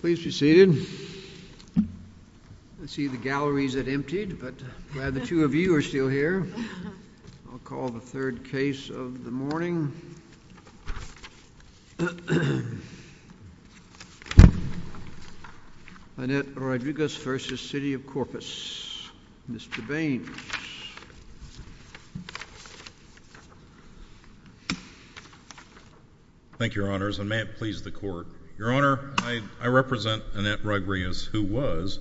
Please be seated. I see the galleries have emptied, but I'm glad the two of you are still here. I'll call the third case of the morning. Annette Rodriguez v. City of Corpus. Mr. Baines. Thank you, Your Honors, and may it please the Court. Your Honor, I represent Annette Rodriguez, who was,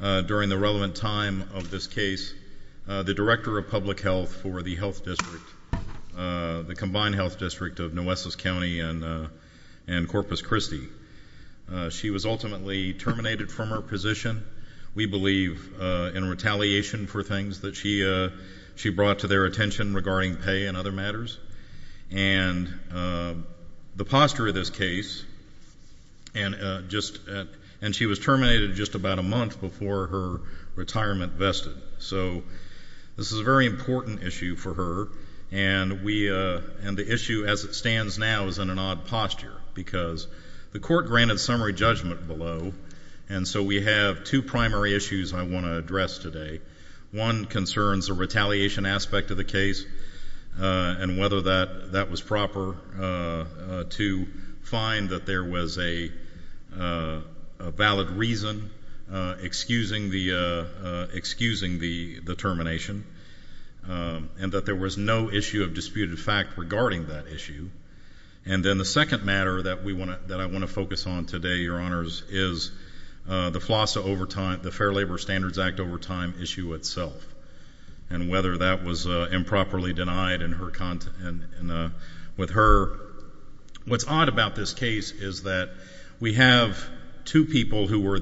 during the relevant time of this case, the Director of Public Health for the Health District, the Combined Health District of Nueces County and Corpus Christi. She was ultimately terminated from her position, we believe, in retaliation for things that she brought to their attention regarding pay and other matters. And the posture of this case, and she was terminated just about a month before her retirement vested. So this is a very important issue for her, and the issue as it stands now is in an odd posture because the Court granted summary judgment below, and so we have two primary issues I want to address today. One concerns the retaliation aspect of the case and whether that was proper to find that there was a valid reason excusing the termination and that there was no issue of disputed fact regarding that issue. And then the second matter that I want to focus on today, Your Honors, is the FLASA overtime, the Fair Labor Standards Act overtime issue itself and whether that was improperly denied in her content. What's odd about this case is that we have two people who were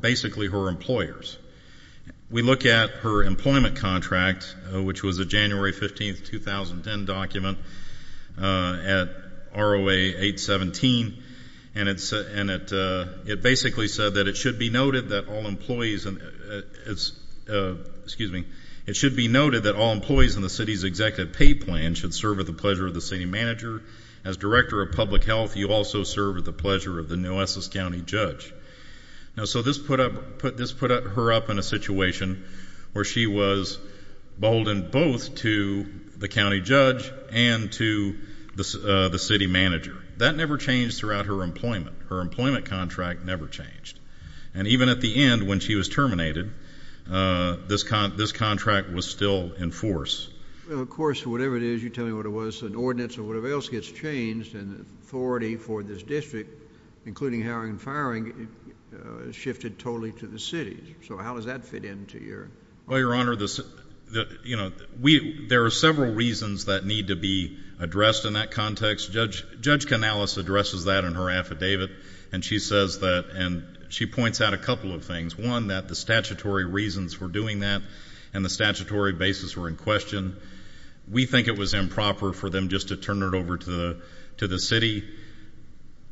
basically her employers. We look at her employment contract, which was a January 15, 2010 document at ROA 817, and it basically said that it should be noted that all employees in the city's executive pay plan should serve at the pleasure of the city manager. As director of public health, you also serve at the pleasure of the Nueces County judge. Now, so this put her up in a situation where she was boldened both to the county judge and to the city manager. That never changed throughout her employment. Her employment contract never changed. And even at the end when she was terminated, this contract was still in force. Well, of course, whatever it is, you tell me what it was, an ordinance or whatever else gets changed and the authority for this district, including hiring and firing, shifted totally to the city. So how does that fit into your? Well, Your Honor, there are several reasons that need to be addressed in that context. Judge Canales addresses that in her affidavit, and she says that and she points out a couple of things. One, that the statutory reasons for doing that and the statutory basis were in question. We think it was improper for them just to turn it over to the city.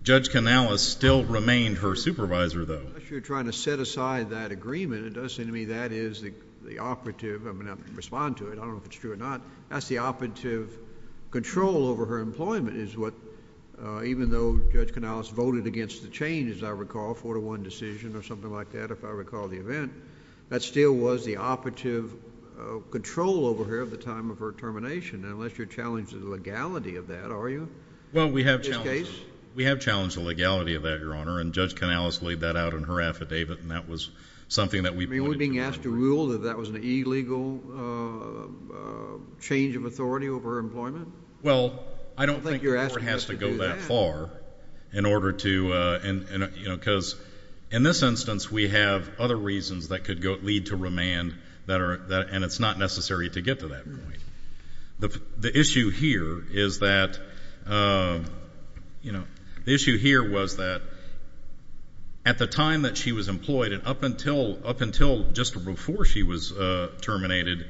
Judge Canales still remained her supervisor, though. You're trying to set aside that agreement. It does seem to me that is the operative. I'm going to have to respond to it. I don't know if it's true or not. That's the operative control over her employment is what, even though Judge Canales voted against the change, as I recall, a four-to-one decision or something like that, if I recall the event, that still was the operative control over her at the time of her termination, unless you're challenged to the legality of that, are you, in this case? Well, we have challenged the legality of that, Your Honor, and Judge Canales laid that out in her affidavit, and that was something that we voted against. You mean we're being asked to rule that that was an illegal change of authority over her employment? Well, I don't think the court has to go that far in order to, you know, in this instance we have other reasons that could lead to remand, and it's not necessary to get to that point. The issue here is that, you know, the issue here was that at the time that she was employed and up until just before she was terminated,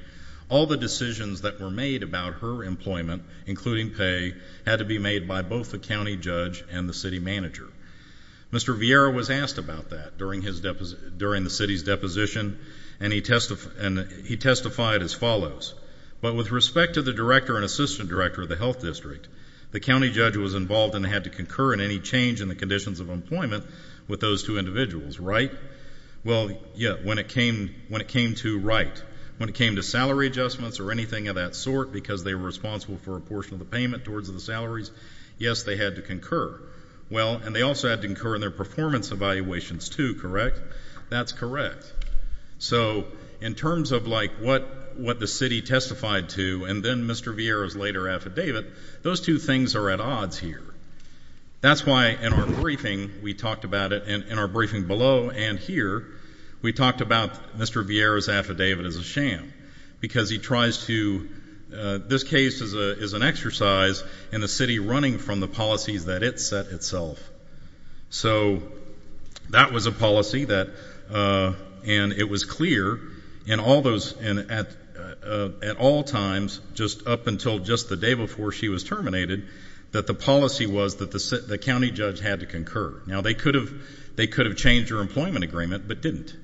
all the decisions that were made about her employment, including pay, had to be made by both the county judge and the city manager. Mr. Vieira was asked about that during the city's deposition, and he testified as follows, but with respect to the director and assistant director of the health district, the county judge was involved and had to concur in any change in the conditions of employment with those two individuals, right? Well, yeah, when it came to, right, when it came to salary adjustments or anything of that sort because they were responsible for a portion of the payment towards the salaries, yes, they had to concur. Well, and they also had to concur in their performance evaluations too, correct? That's correct. So in terms of like what the city testified to and then Mr. Vieira's later affidavit, those two things are at odds here. That's why in our briefing we talked about it, in our briefing below and here, we talked about Mr. Vieira's affidavit as a sham because he tries to, this case is an exercise in the city running from the policies that it set itself. So that was a policy that, and it was clear in all those, at all times just up until just the day before she was terminated that the policy was that the county judge had to concur. Now, they could have changed her employment agreement but didn't.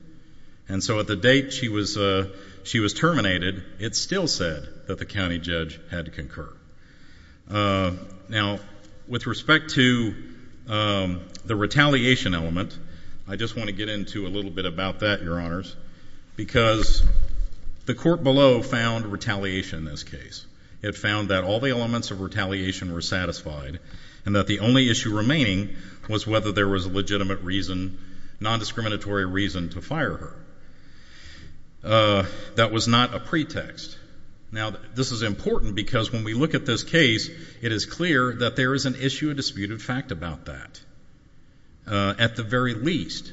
And so at the date she was terminated, it still said that the county judge had to concur. Now, with respect to the retaliation element, I just want to get into a little bit about that, Your Honors, because the court below found retaliation in this case. It found that all the elements of retaliation were satisfied and that the only issue remaining was whether there was a legitimate reason, non-discriminatory reason to fire her. That was not a pretext. Now, this is important because when we look at this case, it is clear that there is an issue, a disputed fact about that. At the very least,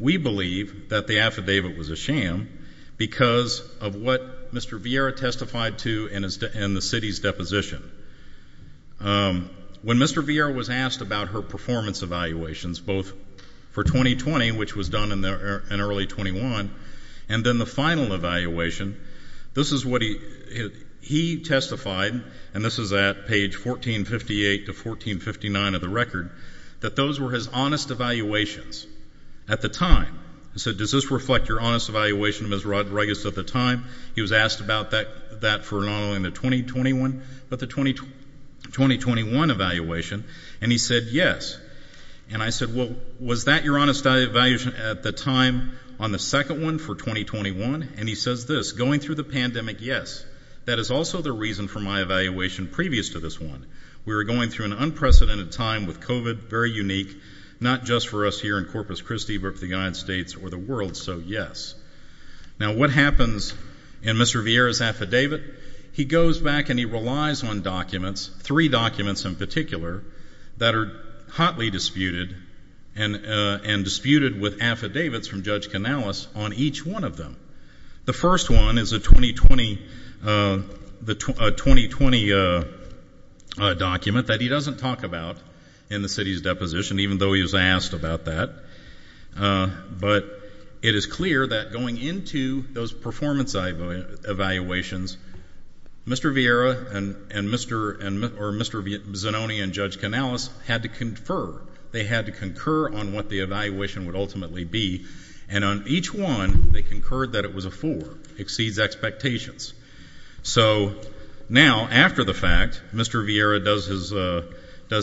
we believe that the affidavit was a sham because of what Mr. Vieira testified to in the city's deposition. When Mr. Vieira was asked about her performance evaluations, both for 2020, which was done in early 21, and then the final evaluation, this is what he testified, and this is at page 1458 to 1459 of the record, that those were his honest evaluations at the time. He said, does this reflect your honest evaluation of Ms. Rodriguez at the time? He was asked about that for not only the 2021, but the 2021 evaluation, and he said yes. And I said, well, was that your honest evaluation at the time on the second one for 2021? And he says this, going through the pandemic, yes. That is also the reason for my evaluation previous to this one. We were going through an unprecedented time with COVID, very unique, not just for us here in Corpus Christi, but for the United States or the world, so yes. Now, what happens in Mr. Vieira's affidavit? He goes back and he relies on documents, three documents in particular, that are hotly disputed and disputed with affidavits from Judge Canales on each one of them. The first one is a 2020 document that he doesn't talk about in the city's deposition, even though he was asked about that, but it is clear that going into those performance evaluations, Mr. Vieira and Mr. Zanoni and Judge Canales had to confer. They had to concur on what the evaluation would ultimately be, and on each one they concurred that it was a four, exceeds expectations. So now, after the fact, Mr. Vieira does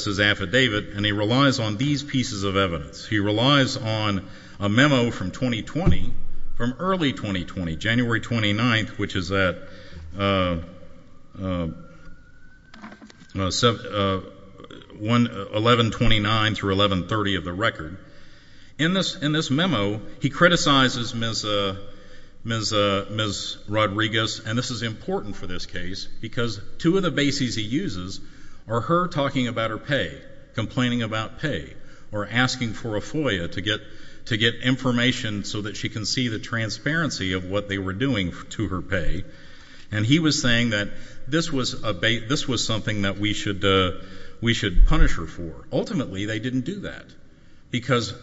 his affidavit, and he relies on these pieces of evidence. He relies on a memo from 2020, from early 2020, January 29th, which is at 1129 through 1130 of the record. In this memo, he criticizes Ms. Rodriguez, and this is important for this case, because two of the bases he uses are her talking about her pay, complaining about pay, or asking for a FOIA to get information so that she can see the transparency of what they were doing to her pay, and he was saying that this was something that we should punish her for. Ultimately, they didn't do that, because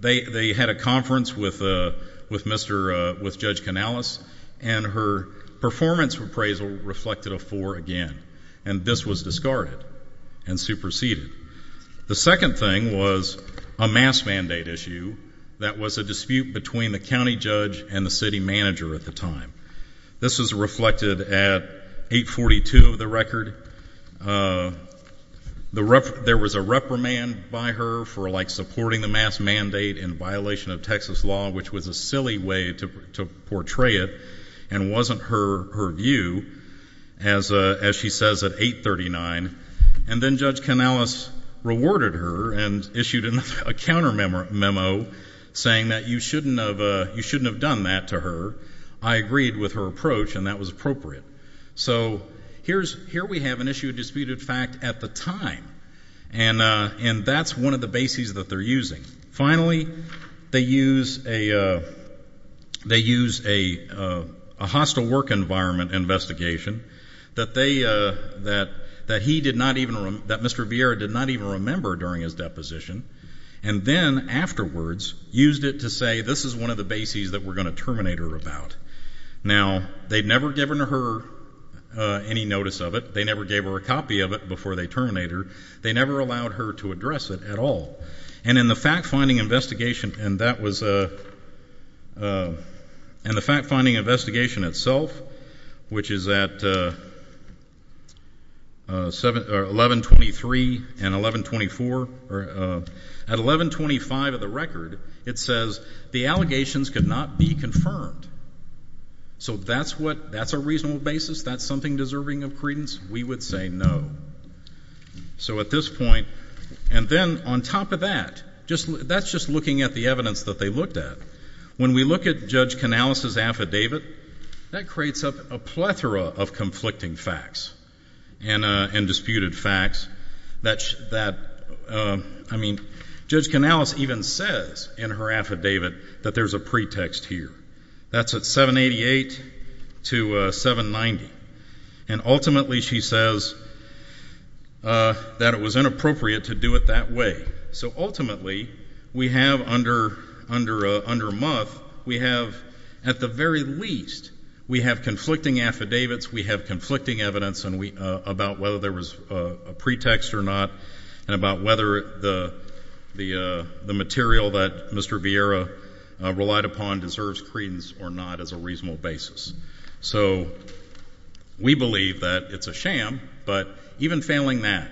they had a conference with Judge Canales, and her performance appraisal reflected a four again, and this was discarded and superseded. The second thing was a mass mandate issue that was a dispute between the county judge and the city manager at the time. This was reflected at 842 of the record. There was a reprimand by her for supporting the mass mandate in violation of Texas law, which was a silly way to portray it and wasn't her view, as she says at 839, and then Judge Canales rewarded her and issued a countermemo saying that you shouldn't have done that to her. I agreed with her approach, and that was appropriate. So here we have an issue of disputed fact at the time, and that's one of the bases that they're using. Finally, they use a hostile work environment investigation that Mr. Vieira did not even remember during his deposition, and then afterwards used it to say this is one of the bases that we're going to terminate her about. Now, they'd never given her any notice of it. They never gave her a copy of it before they terminate her. They never allowed her to address it at all, and in the fact-finding investigation itself, which is at 1123 and 1124, at 1125 of the record, it says the allegations could not be confirmed. So that's a reasonable basis? That's something deserving of credence? We would say no. So at this point, and then on top of that, that's just looking at the evidence that they looked at. When we look at Judge Canales' affidavit, that creates a plethora of conflicting facts and disputed facts. Judge Canales even says in her affidavit that there's a pretext here. That's at 788 to 790, and ultimately she says that it was inappropriate to do it that way. So ultimately we have under Muth, we have at the very least, we have conflicting affidavits, we have conflicting evidence about whether there was a pretext or not, and about whether the material that Mr. Vieira relied upon deserves credence or not as a reasonable basis. So we believe that it's a sham, but even failing that,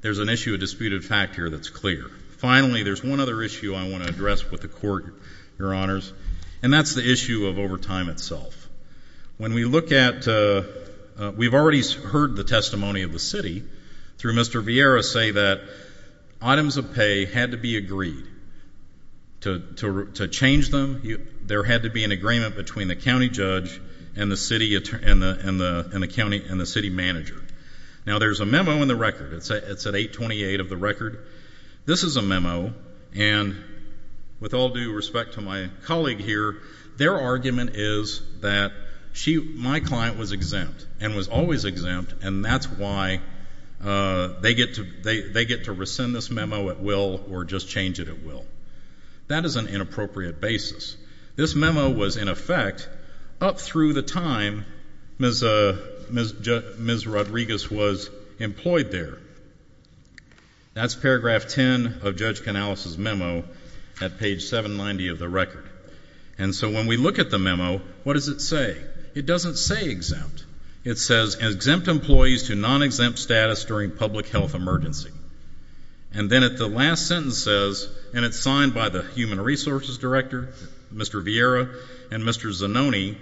there's an issue of disputed fact here that's clear. Finally, there's one other issue I want to address with the Court, Your Honors, and that's the issue of overtime itself. When we look at, we've already heard the testimony of the city through Mr. Vieira say that items of pay had to be agreed. To change them, there had to be an agreement between the county judge and the city manager. Now, there's a memo in the record. It's at 828 of the record. This is a memo, and with all due respect to my colleague here, their argument is that my client was exempt and was always exempt, and that's why they get to rescind this memo at will or just change it at will. That is an inappropriate basis. This memo was, in effect, up through the time Ms. Rodriguez was employed there. That's paragraph 10 of Judge Canales' memo at page 790 of the record. And so when we look at the memo, what does it say? It doesn't say exempt. It says, Exempt employees to non-exempt status during public health emergency. And then at the last sentence says, and it's signed by the human resources director, Mr. Vieira, and Mr. Zanoni,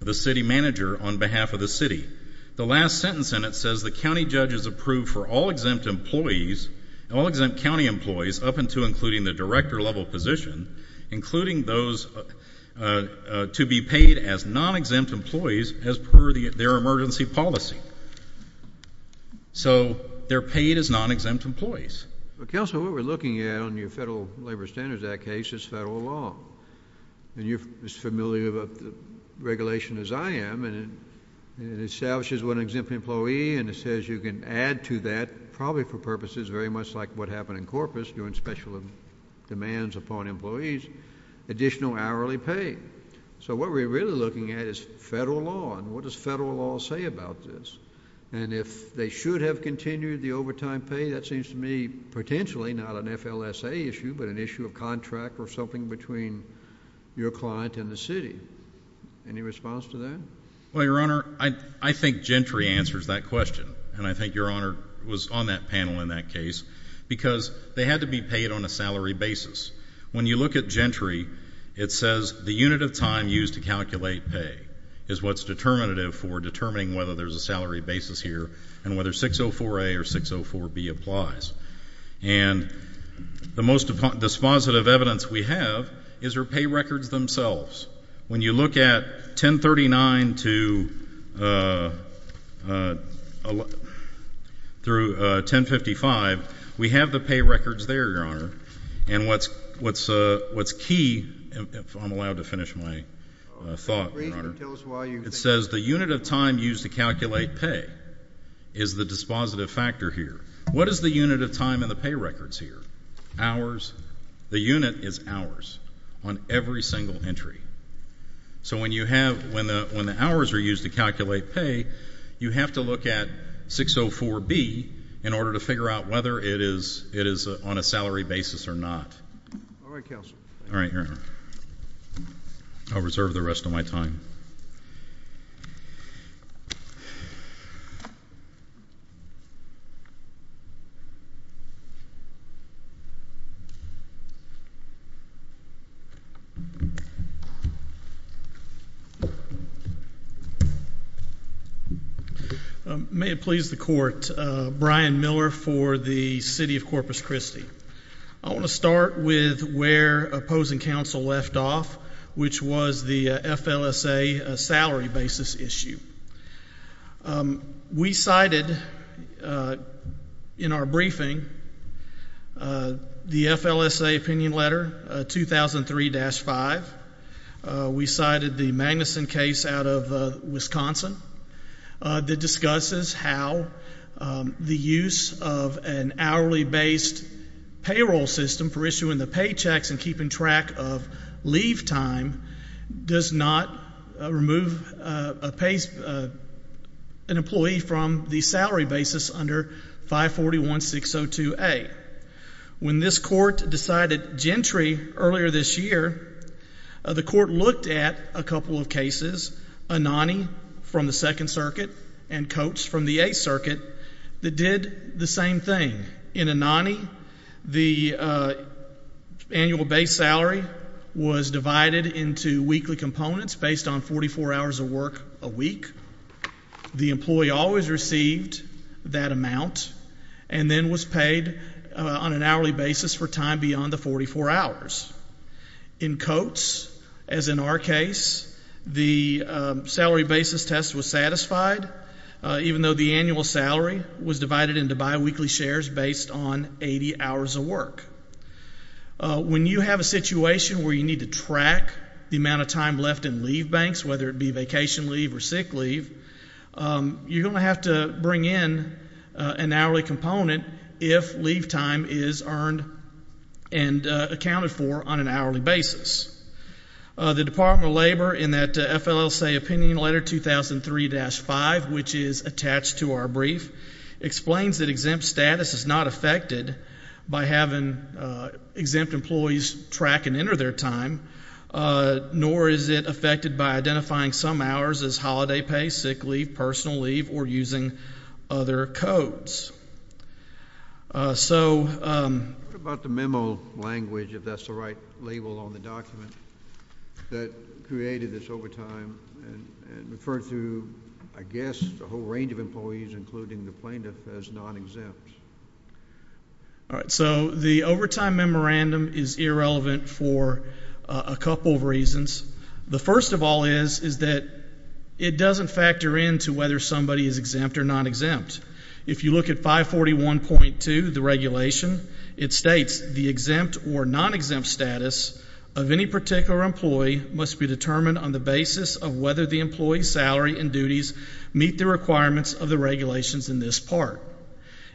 the city manager on behalf of the city. The last sentence in it says the county judge has approved for all exempt employees, all exempt county employees up until including the director level position, including those to be paid as non-exempt employees as per their emergency policy. So they're paid as non-exempt employees. Counsel, what we're looking at on your Federal Labor Standards Act case is federal law, and you're as familiar with the regulation as I am, and it establishes one exempt employee and it says you can add to that, probably for purposes very much like what happened in Corpus during special demands upon employees, additional hourly pay. So what we're really looking at is federal law, and what does federal law say about this? And if they should have continued the overtime pay, that seems to me potentially not an FLSA issue but an issue of contract or something between your client and the city. Any response to that? Well, Your Honor, I think Gentry answers that question, and I think Your Honor was on that panel in that case because they had to be paid on a salary basis. When you look at Gentry, it says the unit of time used to calculate pay is what's determinative for determining whether there's a salary basis here and whether 604A or 604B applies. And the most dispositive evidence we have is their pay records themselves. When you look at 1039 through 1055, we have the pay records there, Your Honor, and what's key, if I'm allowed to finish my thought, Your Honor, it says the unit of time used to calculate pay is the dispositive factor here. What is the unit of time in the pay records here? Hours. The unit is hours on every single entry. So when the hours are used to calculate pay, you have to look at 604B in order to figure out whether it is on a salary basis or not. All right, counsel. All right, Your Honor. I'll reserve the rest of my time. May it please the Court. Brian Miller for the City of Corpus Christi. I want to start with where opposing counsel left off, which was the FLSA salary basis issue. We cited in our briefing the FLSA opinion letter 2003-5. We cited the Magnuson case out of Wisconsin that discusses how the use of an hourly-based payroll system for issuing the paychecks and keeping track of leave time does not remove an employee from the salary basis under 541-602A. When this court decided gentry earlier this year, the court looked at a couple of cases, Anani from the Second Circuit and Coates from the Eighth Circuit, that did the same thing. In Anani, the annual base salary was divided into weekly components based on 44 hours of work a week. The employee always received that amount and then was paid on an hourly basis for time beyond the 44 hours. In Coates, as in our case, the salary basis test was satisfied, even though the annual salary was divided into bi-weekly shares based on 80 hours of work. When you have a situation where you need to track the amount of time left in leave banks, whether it be vacation leave or sick leave, you're going to have to bring in an hourly component if leave time is earned and accounted for on an hourly basis. The Department of Labor, in that FLSA opinion letter 2003-5, which is attached to our brief, explains that exempt status is not affected by having exempt employees track and enter their time, nor is it affected by identifying some hours as holiday pay, sick leave, personal leave, or using other codes. What about the memo language, if that's the right label on the document, that created this overtime and referred to, I guess, a whole range of employees, including the plaintiff, as non-exempt? All right, so the overtime memorandum is irrelevant for a couple of reasons. The first of all is that it doesn't factor into whether somebody is exempt or non-exempt. If you look at 541.2, the regulation, it states the exempt or non-exempt status of any particular employee must be determined on the basis of whether the employee's salary and duties meet the requirements of the regulations in this part.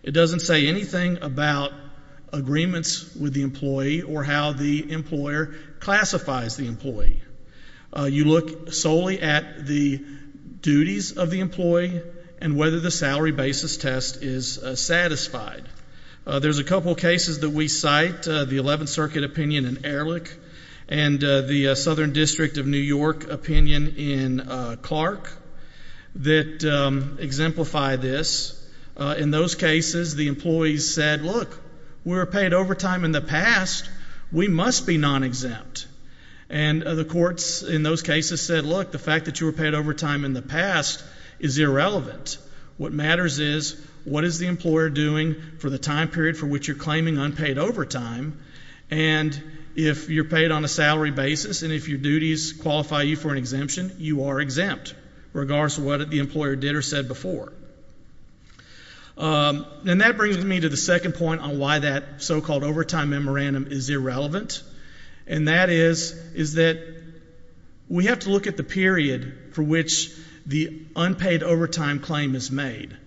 It doesn't say anything about agreements with the employee or how the employer classifies the employee. You look solely at the duties of the employee and whether the salary basis test is satisfied. There's a couple cases that we cite, the 11th Circuit opinion in Ehrlich and the Southern District of New York opinion in Clark, that exemplify this. In those cases, the employees said, look, we were paid overtime in the past. We must be non-exempt. And the courts in those cases said, look, the fact that you were paid overtime in the past is irrelevant. What matters is what is the employer doing for the time period for which you're claiming unpaid overtime, and if you're paid on a salary basis and if your duties qualify you for an exemption, you are exempt, regardless of what the employer did or said before. And that brings me to the second point on why that so-called overtime memorandum is irrelevant, and that is that we have to look at the period for which the unpaid overtime claim is made.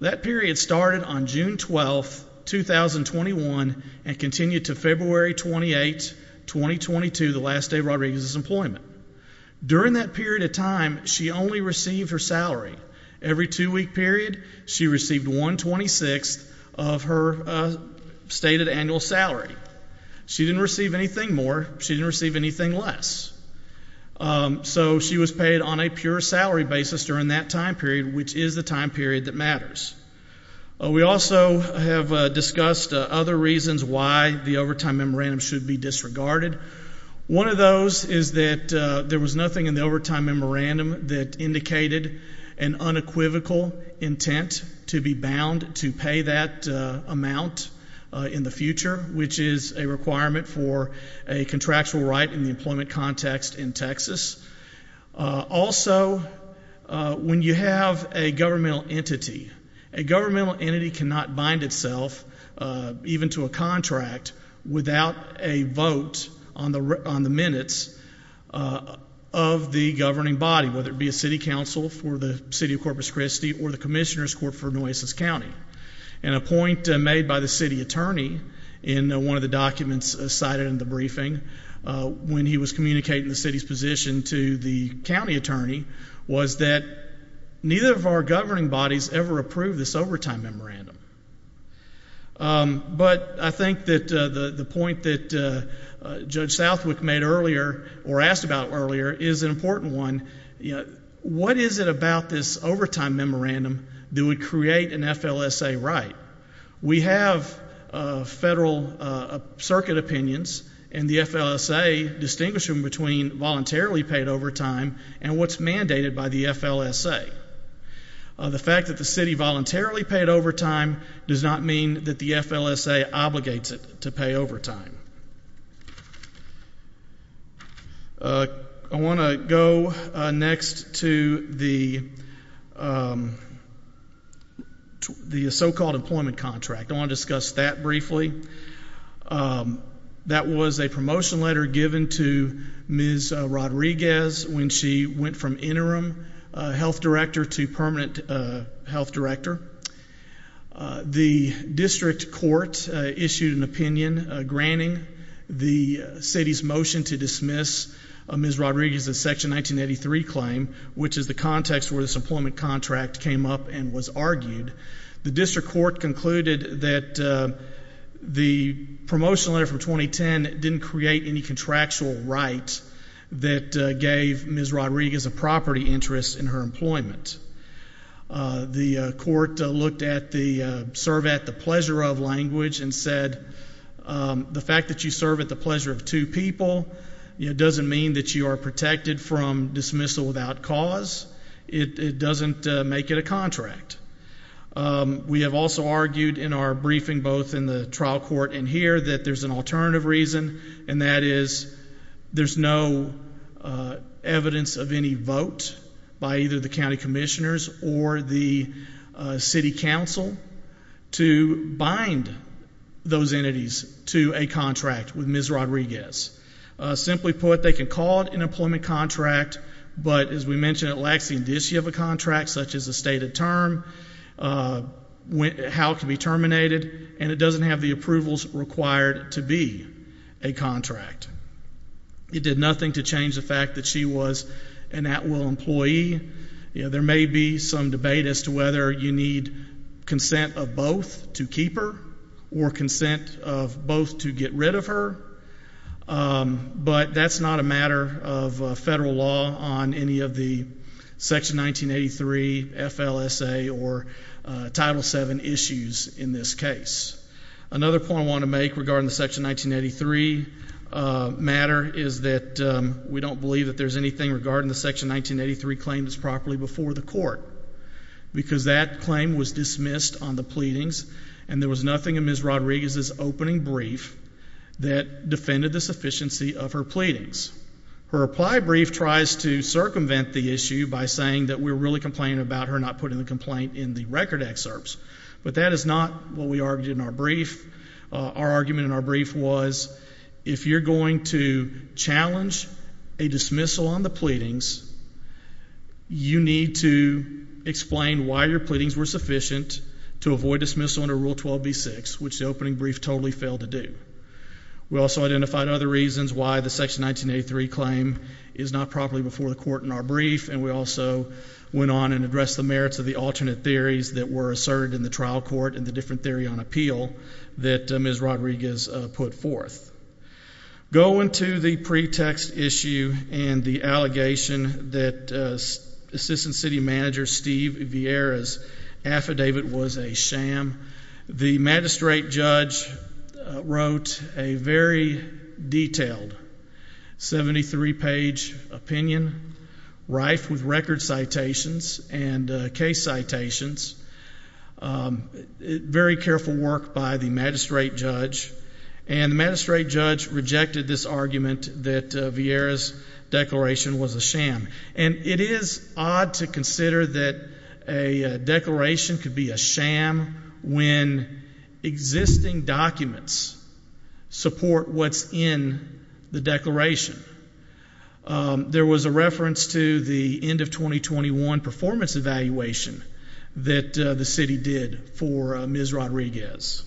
That period started on June 12, 2021, and continued to February 28, 2022, the last day of Rodriguez's employment. During that period of time, she only received her salary. Every two-week period, she received one-twenty-sixth of her stated annual salary. She didn't receive anything more. She didn't receive anything less. So she was paid on a pure salary basis during that time period, which is the time period that matters. We also have discussed other reasons why the overtime memorandum should be disregarded. One of those is that there was nothing in the overtime memorandum that indicated an unequivocal intent to be bound to pay that amount in the future, which is a requirement for a contractual right in the employment context in Texas. Also, when you have a governmental entity, a governmental entity cannot bind itself even to a contract without a vote on the minutes of the governing body, whether it be a city council for the city of Corpus Christi or the commissioner's court for Nueces County. And a point made by the city attorney in one of the documents cited in the briefing, when he was communicating the city's position to the county attorney, was that neither of our governing bodies ever approved this overtime memorandum. But I think that the point that Judge Southwick made earlier, or asked about earlier, is an important one. What is it about this overtime memorandum that would create an FLSA right? We have federal circuit opinions and the FLSA distinguishing between voluntarily paid overtime and what's mandated by the FLSA. The fact that the city voluntarily paid overtime does not mean that the FLSA obligates it to pay overtime. I want to go next to the so-called employment contract. I want to discuss that briefly. That was a promotion letter given to Ms. Rodriguez when she went from interim health director to permanent health director. The district court issued an opinion granting the city's motion to dismiss Ms. Rodriguez's Section 1983 claim, which is the context where this employment contract came up and was argued. The district court concluded that the promotion letter from 2010 didn't create any contractual right that gave Ms. Rodriguez a property interest in her employment. The court looked at the serve at the pleasure of language and said the fact that you serve at the pleasure of two people doesn't mean that you are protected from dismissal without cause. It doesn't make it a contract. We have also argued in our briefing both in the trial court and here that there's an alternative reason, and that is there's no evidence of any vote by either the county commissioners or the city council to bind those entities to a contract with Ms. Rodriguez. Simply put, they can call it an employment contract, but as we mentioned, it lacks the indicia of a contract, such as a stated term, how it can be terminated, and it doesn't have the approvals required to be a contract. It did nothing to change the fact that she was an at-will employee. There may be some debate as to whether you need consent of both to keep her or consent of both to get rid of her, but that's not a matter of federal law on any of the Section 1983 FLSA or Title VII issues in this case. Another point I want to make regarding the Section 1983 matter is that we don't believe that there's anything regarding the Section 1983 claim that's properly before the court because that claim was dismissed on the pleadings, and there was nothing in Ms. Rodriguez's opening brief that defended the sufficiency of her pleadings. Her reply brief tries to circumvent the issue by saying that we're really complaining about her not putting the complaint in the record excerpts, but that is not what we argued in our brief. Our argument in our brief was if you're going to challenge a dismissal on the pleadings, you need to explain why your pleadings were sufficient to avoid dismissal under Rule 12b-6, which the opening brief totally failed to do. We also identified other reasons why the Section 1983 claim is not properly before the court in our brief, and we also went on and addressed the merits of the alternate theories that were asserted in the trial court and the different theory on appeal that Ms. Rodriguez put forth. Going to the pretext issue and the allegation that Assistant City Manager Steve Vieira's affidavit was a sham, the magistrate judge wrote a very detailed 73-page opinion rife with record citations and case citations. Very careful work by the magistrate judge. And the magistrate judge rejected this argument that Vieira's declaration was a sham. And it is odd to consider that a declaration could be a sham when existing documents support what's in the declaration. There was a reference to the end of 2021 performance evaluation that the city did for Ms. Rodriguez.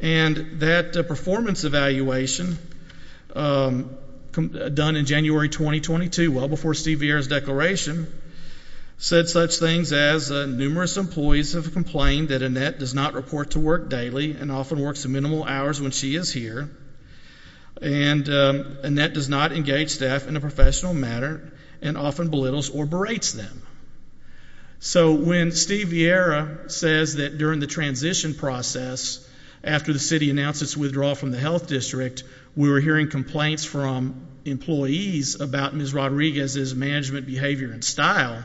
And that performance evaluation done in January 2022, well before Steve Vieira's declaration, said such things as numerous employees have complained that Annette does not report to work daily and often works minimal hours when she is here, and Annette does not engage staff in a professional manner and often belittles or berates them. So when Steve Vieira says that during the transition process, after the city announced its withdrawal from the health district, we were hearing complaints from employees about Ms. Rodriguez's management behavior and style,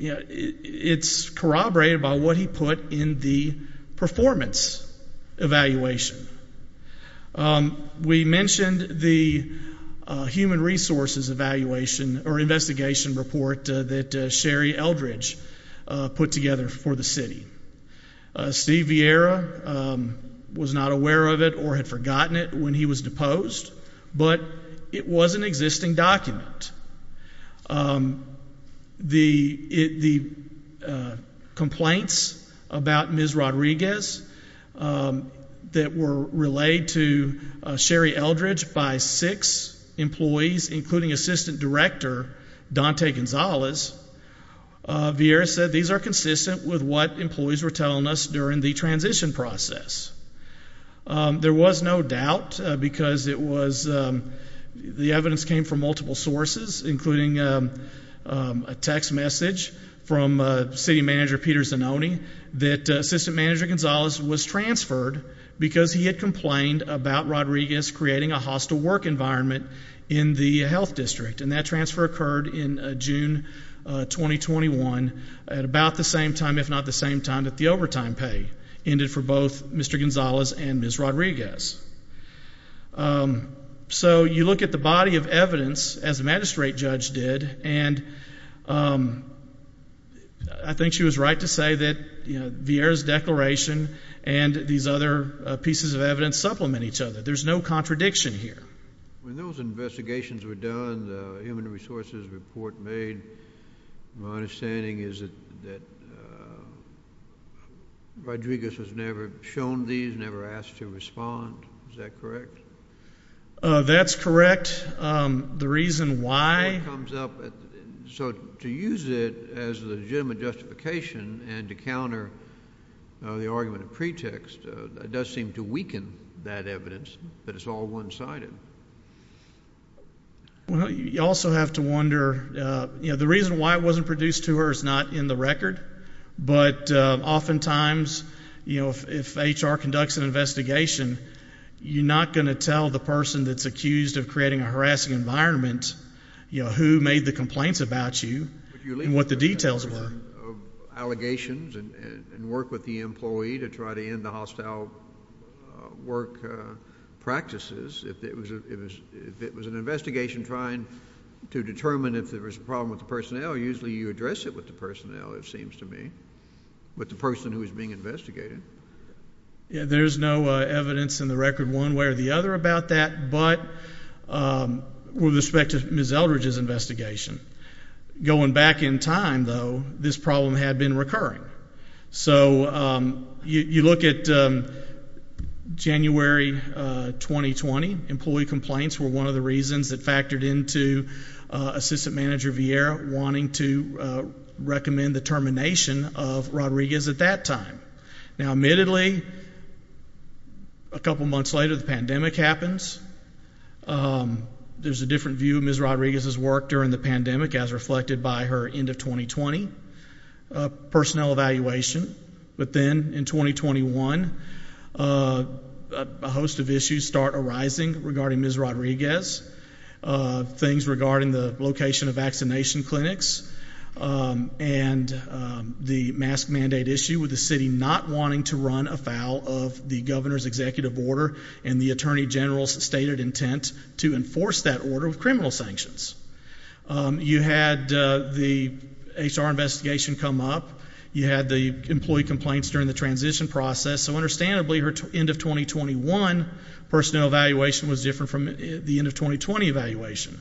it's corroborated by what he put in the performance evaluation. We mentioned the human resources evaluation or investigation report that Sherry Eldridge put together for the city. Steve Vieira was not aware of it or had forgotten it when he was deposed, but it was an existing document. The complaints about Ms. Rodriguez that were relayed to Sherry Eldridge by six employees, including Assistant Director Dante Gonzalez, Vieira said these are consistent with what employees were telling us during the transition process. There was no doubt because the evidence came from multiple sources, including a text message from City Manager Peter Zanoni that Assistant Manager Gonzalez was transferred because he had complained about Rodriguez creating a hostile work environment in the health district, and that transfer occurred in June 2021 at about the same time, if not the same time, that the overtime pay ended for both Mr. Gonzalez and Ms. Rodriguez. So you look at the body of evidence, as the magistrate judge did, and I think she was right to say that Vieira's declaration and these other pieces of evidence supplement each other. There's no contradiction here. When those investigations were done, the human resources report made, my understanding is that Rodriguez has never shown these, never asked to respond. Is that correct? That's correct. The reason why- So to use it as a legitimate justification and to counter the argument of pretext, it does seem to weaken that evidence that it's all one-sided. You also have to wonder, you know, the reason why it wasn't produced to her is not in the record, but oftentimes, you know, if HR conducts an investigation, you're not going to tell the person that's accused of creating a harassing environment, you know, who made the complaints about you and what the details were. If you leave allegations and work with the employee to try to end the hostile work practices, if it was an investigation trying to determine if there was a problem with the personnel, usually you address it with the personnel, it seems to me, with the person who is being investigated. There's no evidence in the record one way or the other about that, but with respect to Ms. Eldridge's investigation, going back in time, though, this problem had been recurring. So you look at January 2020, employee complaints were one of the reasons that factored into Assistant Manager Vieira wanting to recommend the termination of Rodriguez at that time. Now, admittedly, a couple months later, the pandemic happens. There's a different view of Ms. Rodriguez's work during the pandemic as reflected by her end of 2020 personnel evaluation. But then in 2021, a host of issues start arising regarding Ms. Rodriguez, things regarding the location of vaccination clinics and the mask mandate issue with the city not wanting to run afoul of the governor's executive order and the attorney general's stated intent to enforce that order with criminal sanctions. You had the HR investigation come up. You had the employee complaints during the transition process. So understandably, her end of 2021 personnel evaluation was different from the end of 2020 evaluation.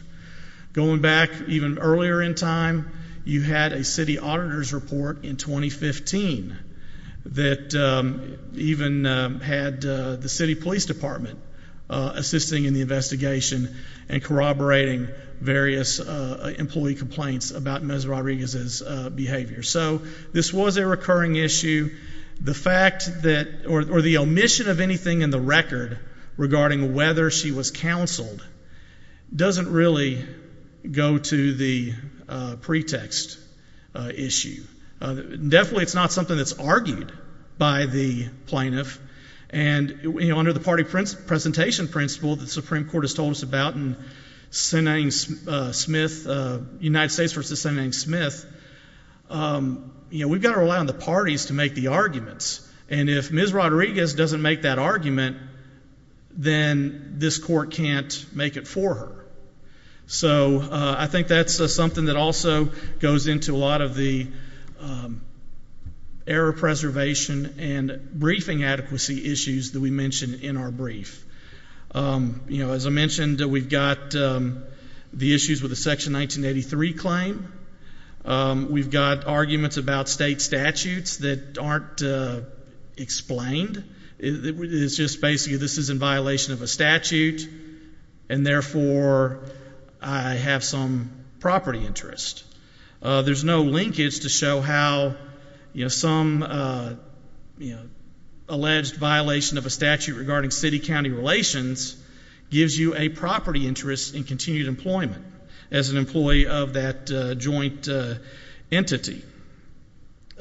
Going back even earlier in time, you had a city auditor's report in 2015 that even had the city police department assisting in the investigation and corroborating various employee complaints about Ms. Rodriguez's behavior. So this was a recurring issue. The fact that or the omission of anything in the record regarding whether she was counseled doesn't really go to the pretext issue. Definitely, it's not something that's argued by the plaintiff. And under the party presentation principle that the Supreme Court has told us about in United States v. Sen. Smith, we've got to rely on the parties to make the arguments. And if Ms. Rodriguez doesn't make that argument, then this court can't make it for her. So I think that's something that also goes into a lot of the error preservation and briefing adequacy issues that we mentioned in our brief. As I mentioned, we've got the issues with the Section 1983 claim. We've got arguments about state statutes that aren't explained. It's just basically this is in violation of a statute, and therefore I have some property interest. There's no linkage to show how some alleged violation of a statute regarding city-county relations gives you a property interest in continued employment as an employee of that joint entity.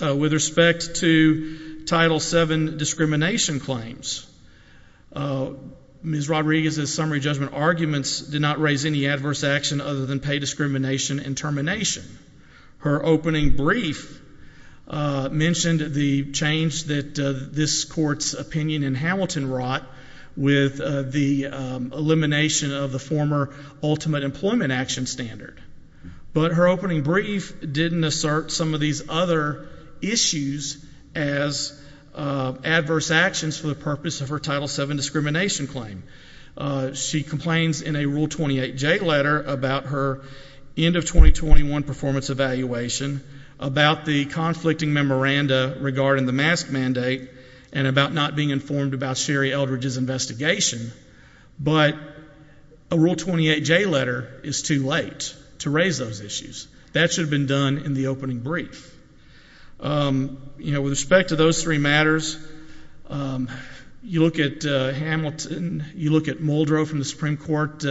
With respect to Title VII discrimination claims, Ms. Rodriguez's summary judgment arguments did not raise any adverse action other than pay discrimination and termination. Her opening brief mentioned the change that this court's opinion in Hamilton wrought with the elimination of the former ultimate employment action standard. But her opening brief didn't assert some of these other issues as adverse actions for the purpose of her Title VII discrimination claim. She complains in a Rule 28J letter about her end of 2021 performance evaluation, about the conflicting memoranda regarding the mask mandate, and about not being informed about Sherry Eldridge's investigation. But a Rule 28J letter is too late to raise those issues. That should have been done in the opening brief. With respect to those three matters, you look at Hamilton, you look at Muldrow from the Supreme Court,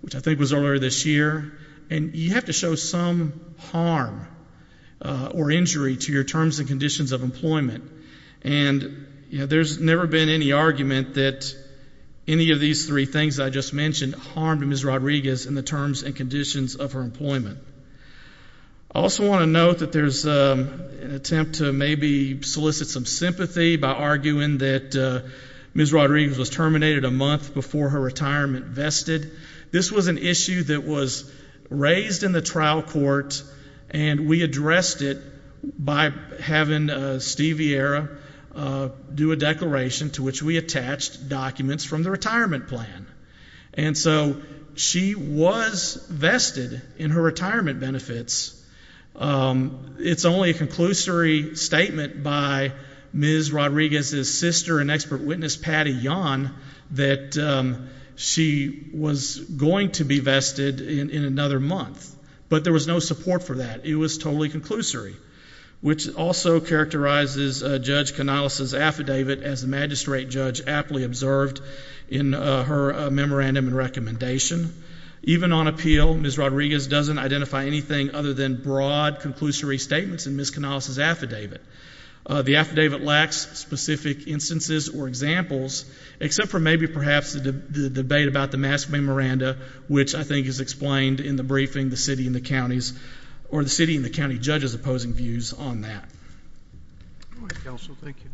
which I think was earlier this year, and you have to show some harm or injury to your terms and conditions of employment. And there's never been any argument that any of these three things I just mentioned harmed Ms. Rodriguez in the terms and conditions of her employment. I also want to note that there's an attempt to maybe solicit some sympathy by arguing that Ms. Rodriguez was terminated a month before her retirement vested. This was an issue that was raised in the trial court, and we addressed it by having Steve Vieira do a declaration to which we attached documents from the retirement plan. And so she was vested in her retirement benefits. It's only a conclusory statement by Ms. Rodriguez's sister and expert witness, Patty Yon, that she was going to be vested in another month. But there was no support for that. It was totally conclusory, which also characterizes Judge Canales' affidavit, as the magistrate judge aptly observed in her memorandum and recommendation. Even on appeal, Ms. Rodriguez doesn't identify anything other than broad conclusory statements in Ms. Canales' affidavit. The affidavit lacks specific instances or examples, except for maybe perhaps the debate about the mask memoranda, which I think is explained in the briefing the city and the counties and the judge's opposing views on that. All right, counsel, thank you.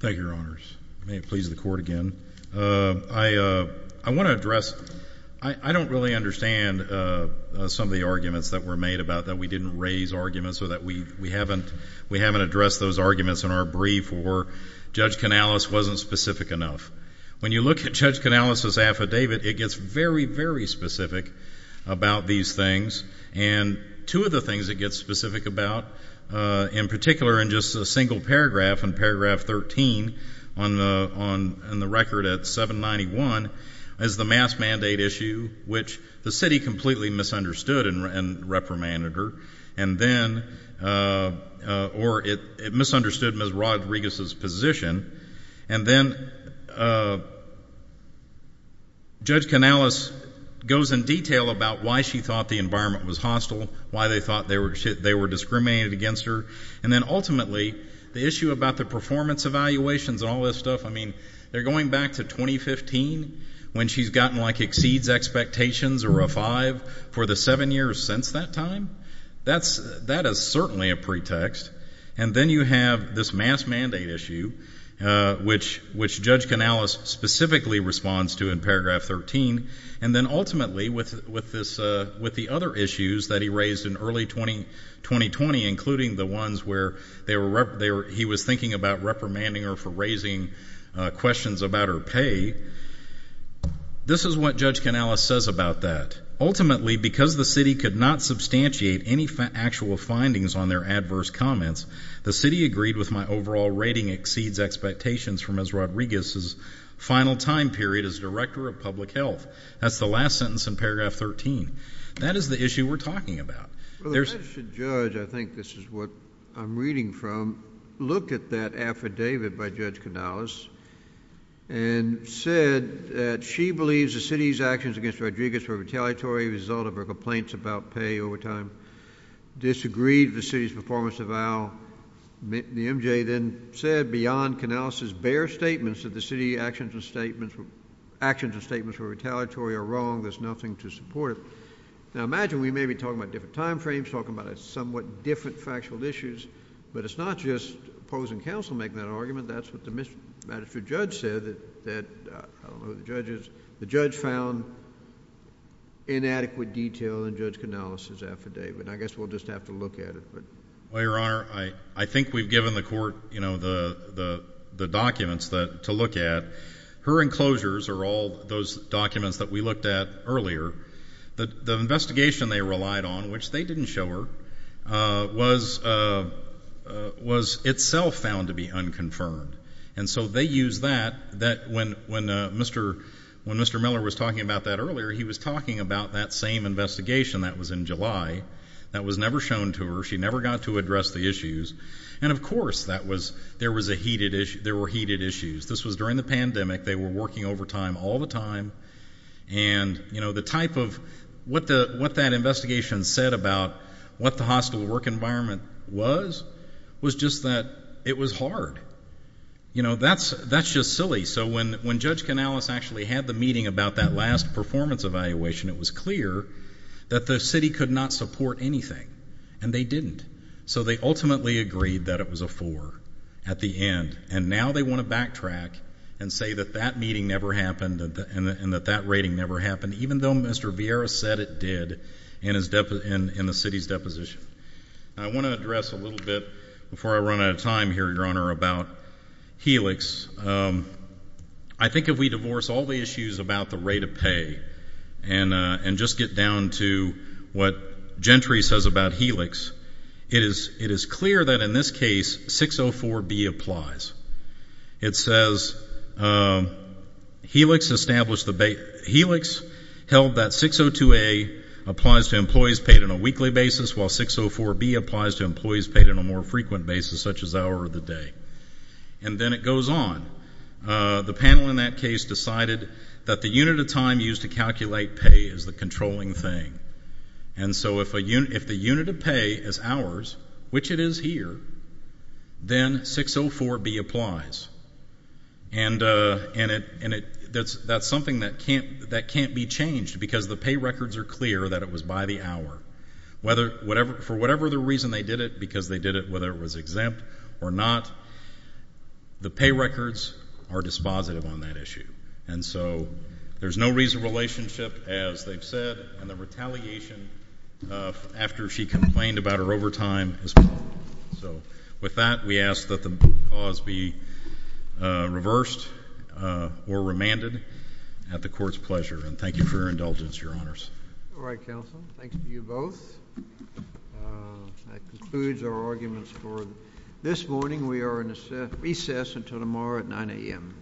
Thank you, Your Honors. May it please the Court again. I want to address, I don't really understand some of the arguments that were made about that we didn't raise arguments or that we haven't addressed those arguments in our brief or Judge Canales wasn't specific enough. When you look at Judge Canales' affidavit, it gets very, very specific about these things. And two of the things it gets specific about, in particular in just a single paragraph, in paragraph 13 in the record at 791, is the mask mandate issue, which the city completely misunderstood and reprimanded her, or it misunderstood Ms. Rodriguez's position. And then Judge Canales goes in detail about why she thought the environment was hostile, why they thought they were discriminated against her. And then ultimately the issue about the performance evaluations and all this stuff, I mean they're going back to 2015 when she's gotten like exceeds expectations or a five for the seven years since that time. That is certainly a pretext. And then you have this mask mandate issue, which Judge Canales specifically responds to in paragraph 13. And then ultimately with the other issues that he raised in early 2020, including the ones where he was thinking about reprimanding her for raising questions about her pay, this is what Judge Canales says about that. Ultimately, because the city could not substantiate any actual findings on their adverse comments, the city agreed with my overall rating exceeds expectations from Ms. Rodriguez's final time period as Director of Public Health. That's the last sentence in paragraph 13. That is the issue we're talking about. Well, the judge, I think this is what I'm reading from, looked at that affidavit by Judge Canales and said that she believes the city's actions against Rodriguez were retaliatory as a result of her complaints about pay overtime, disagreed with the city's performance eval. The MJ then said beyond Canales's bare statements that the city actions and statements were retaliatory are wrong, there's nothing to support it. Now imagine we may be talking about different time frames, talking about somewhat different factual issues, but it's not just opposing counsel making that argument. That's what the magistrate judge said that, I don't know who the judge is, the judge found inadequate detail in Judge Canales's affidavit. I guess we'll just have to look at it. Well, Your Honor, I think we've given the court the documents to look at. Her enclosures are all those documents that we looked at earlier. The investigation they relied on, which they didn't show her, was itself found to be unconfirmed. And so they used that when Mr. Miller was talking about that earlier, he was talking about that same investigation that was in July that was never shown to her. She never got to address the issues. And, of course, there were heated issues. This was during the pandemic. They were working overtime all the time. And, you know, the type of what that investigation said about what the hostile work environment was, was just that it was hard. You know, that's just silly. So when Judge Canales actually had the meeting about that last performance evaluation, it was clear that the city could not support anything, and they didn't. So they ultimately agreed that it was a four at the end. And now they want to backtrack and say that that meeting never happened and that that rating never happened, even though Mr. Vieira said it did in the city's deposition. I want to address a little bit, before I run out of time here, Your Honor, about Helix. I think if we divorce all the issues about the rate of pay and just get down to what Gentry says about Helix, it is clear that in this case 604B applies. It says Helix held that 602A applies to employees paid on a weekly basis, while 604B applies to employees paid on a more frequent basis, such as hour of the day. And then it goes on. The panel in that case decided that the unit of time used to calculate pay is the controlling thing. And so if the unit of pay is hours, which it is here, then 604B applies. And that's something that can't be changed because the pay records are clear that it was by the hour. For whatever the reason they did it, because they did it whether it was exempt or not, the pay records are dispositive on that issue. And so there's no reason relationship, as they've said, and the retaliation after she complained about her overtime is gone. So with that, we ask that the clause be reversed or remanded at the Court's pleasure. And thank you for your indulgence, Your Honors. All right, counsel. Thanks to you both. That concludes our arguments for this morning. We are in recess until tomorrow at 9 a.m.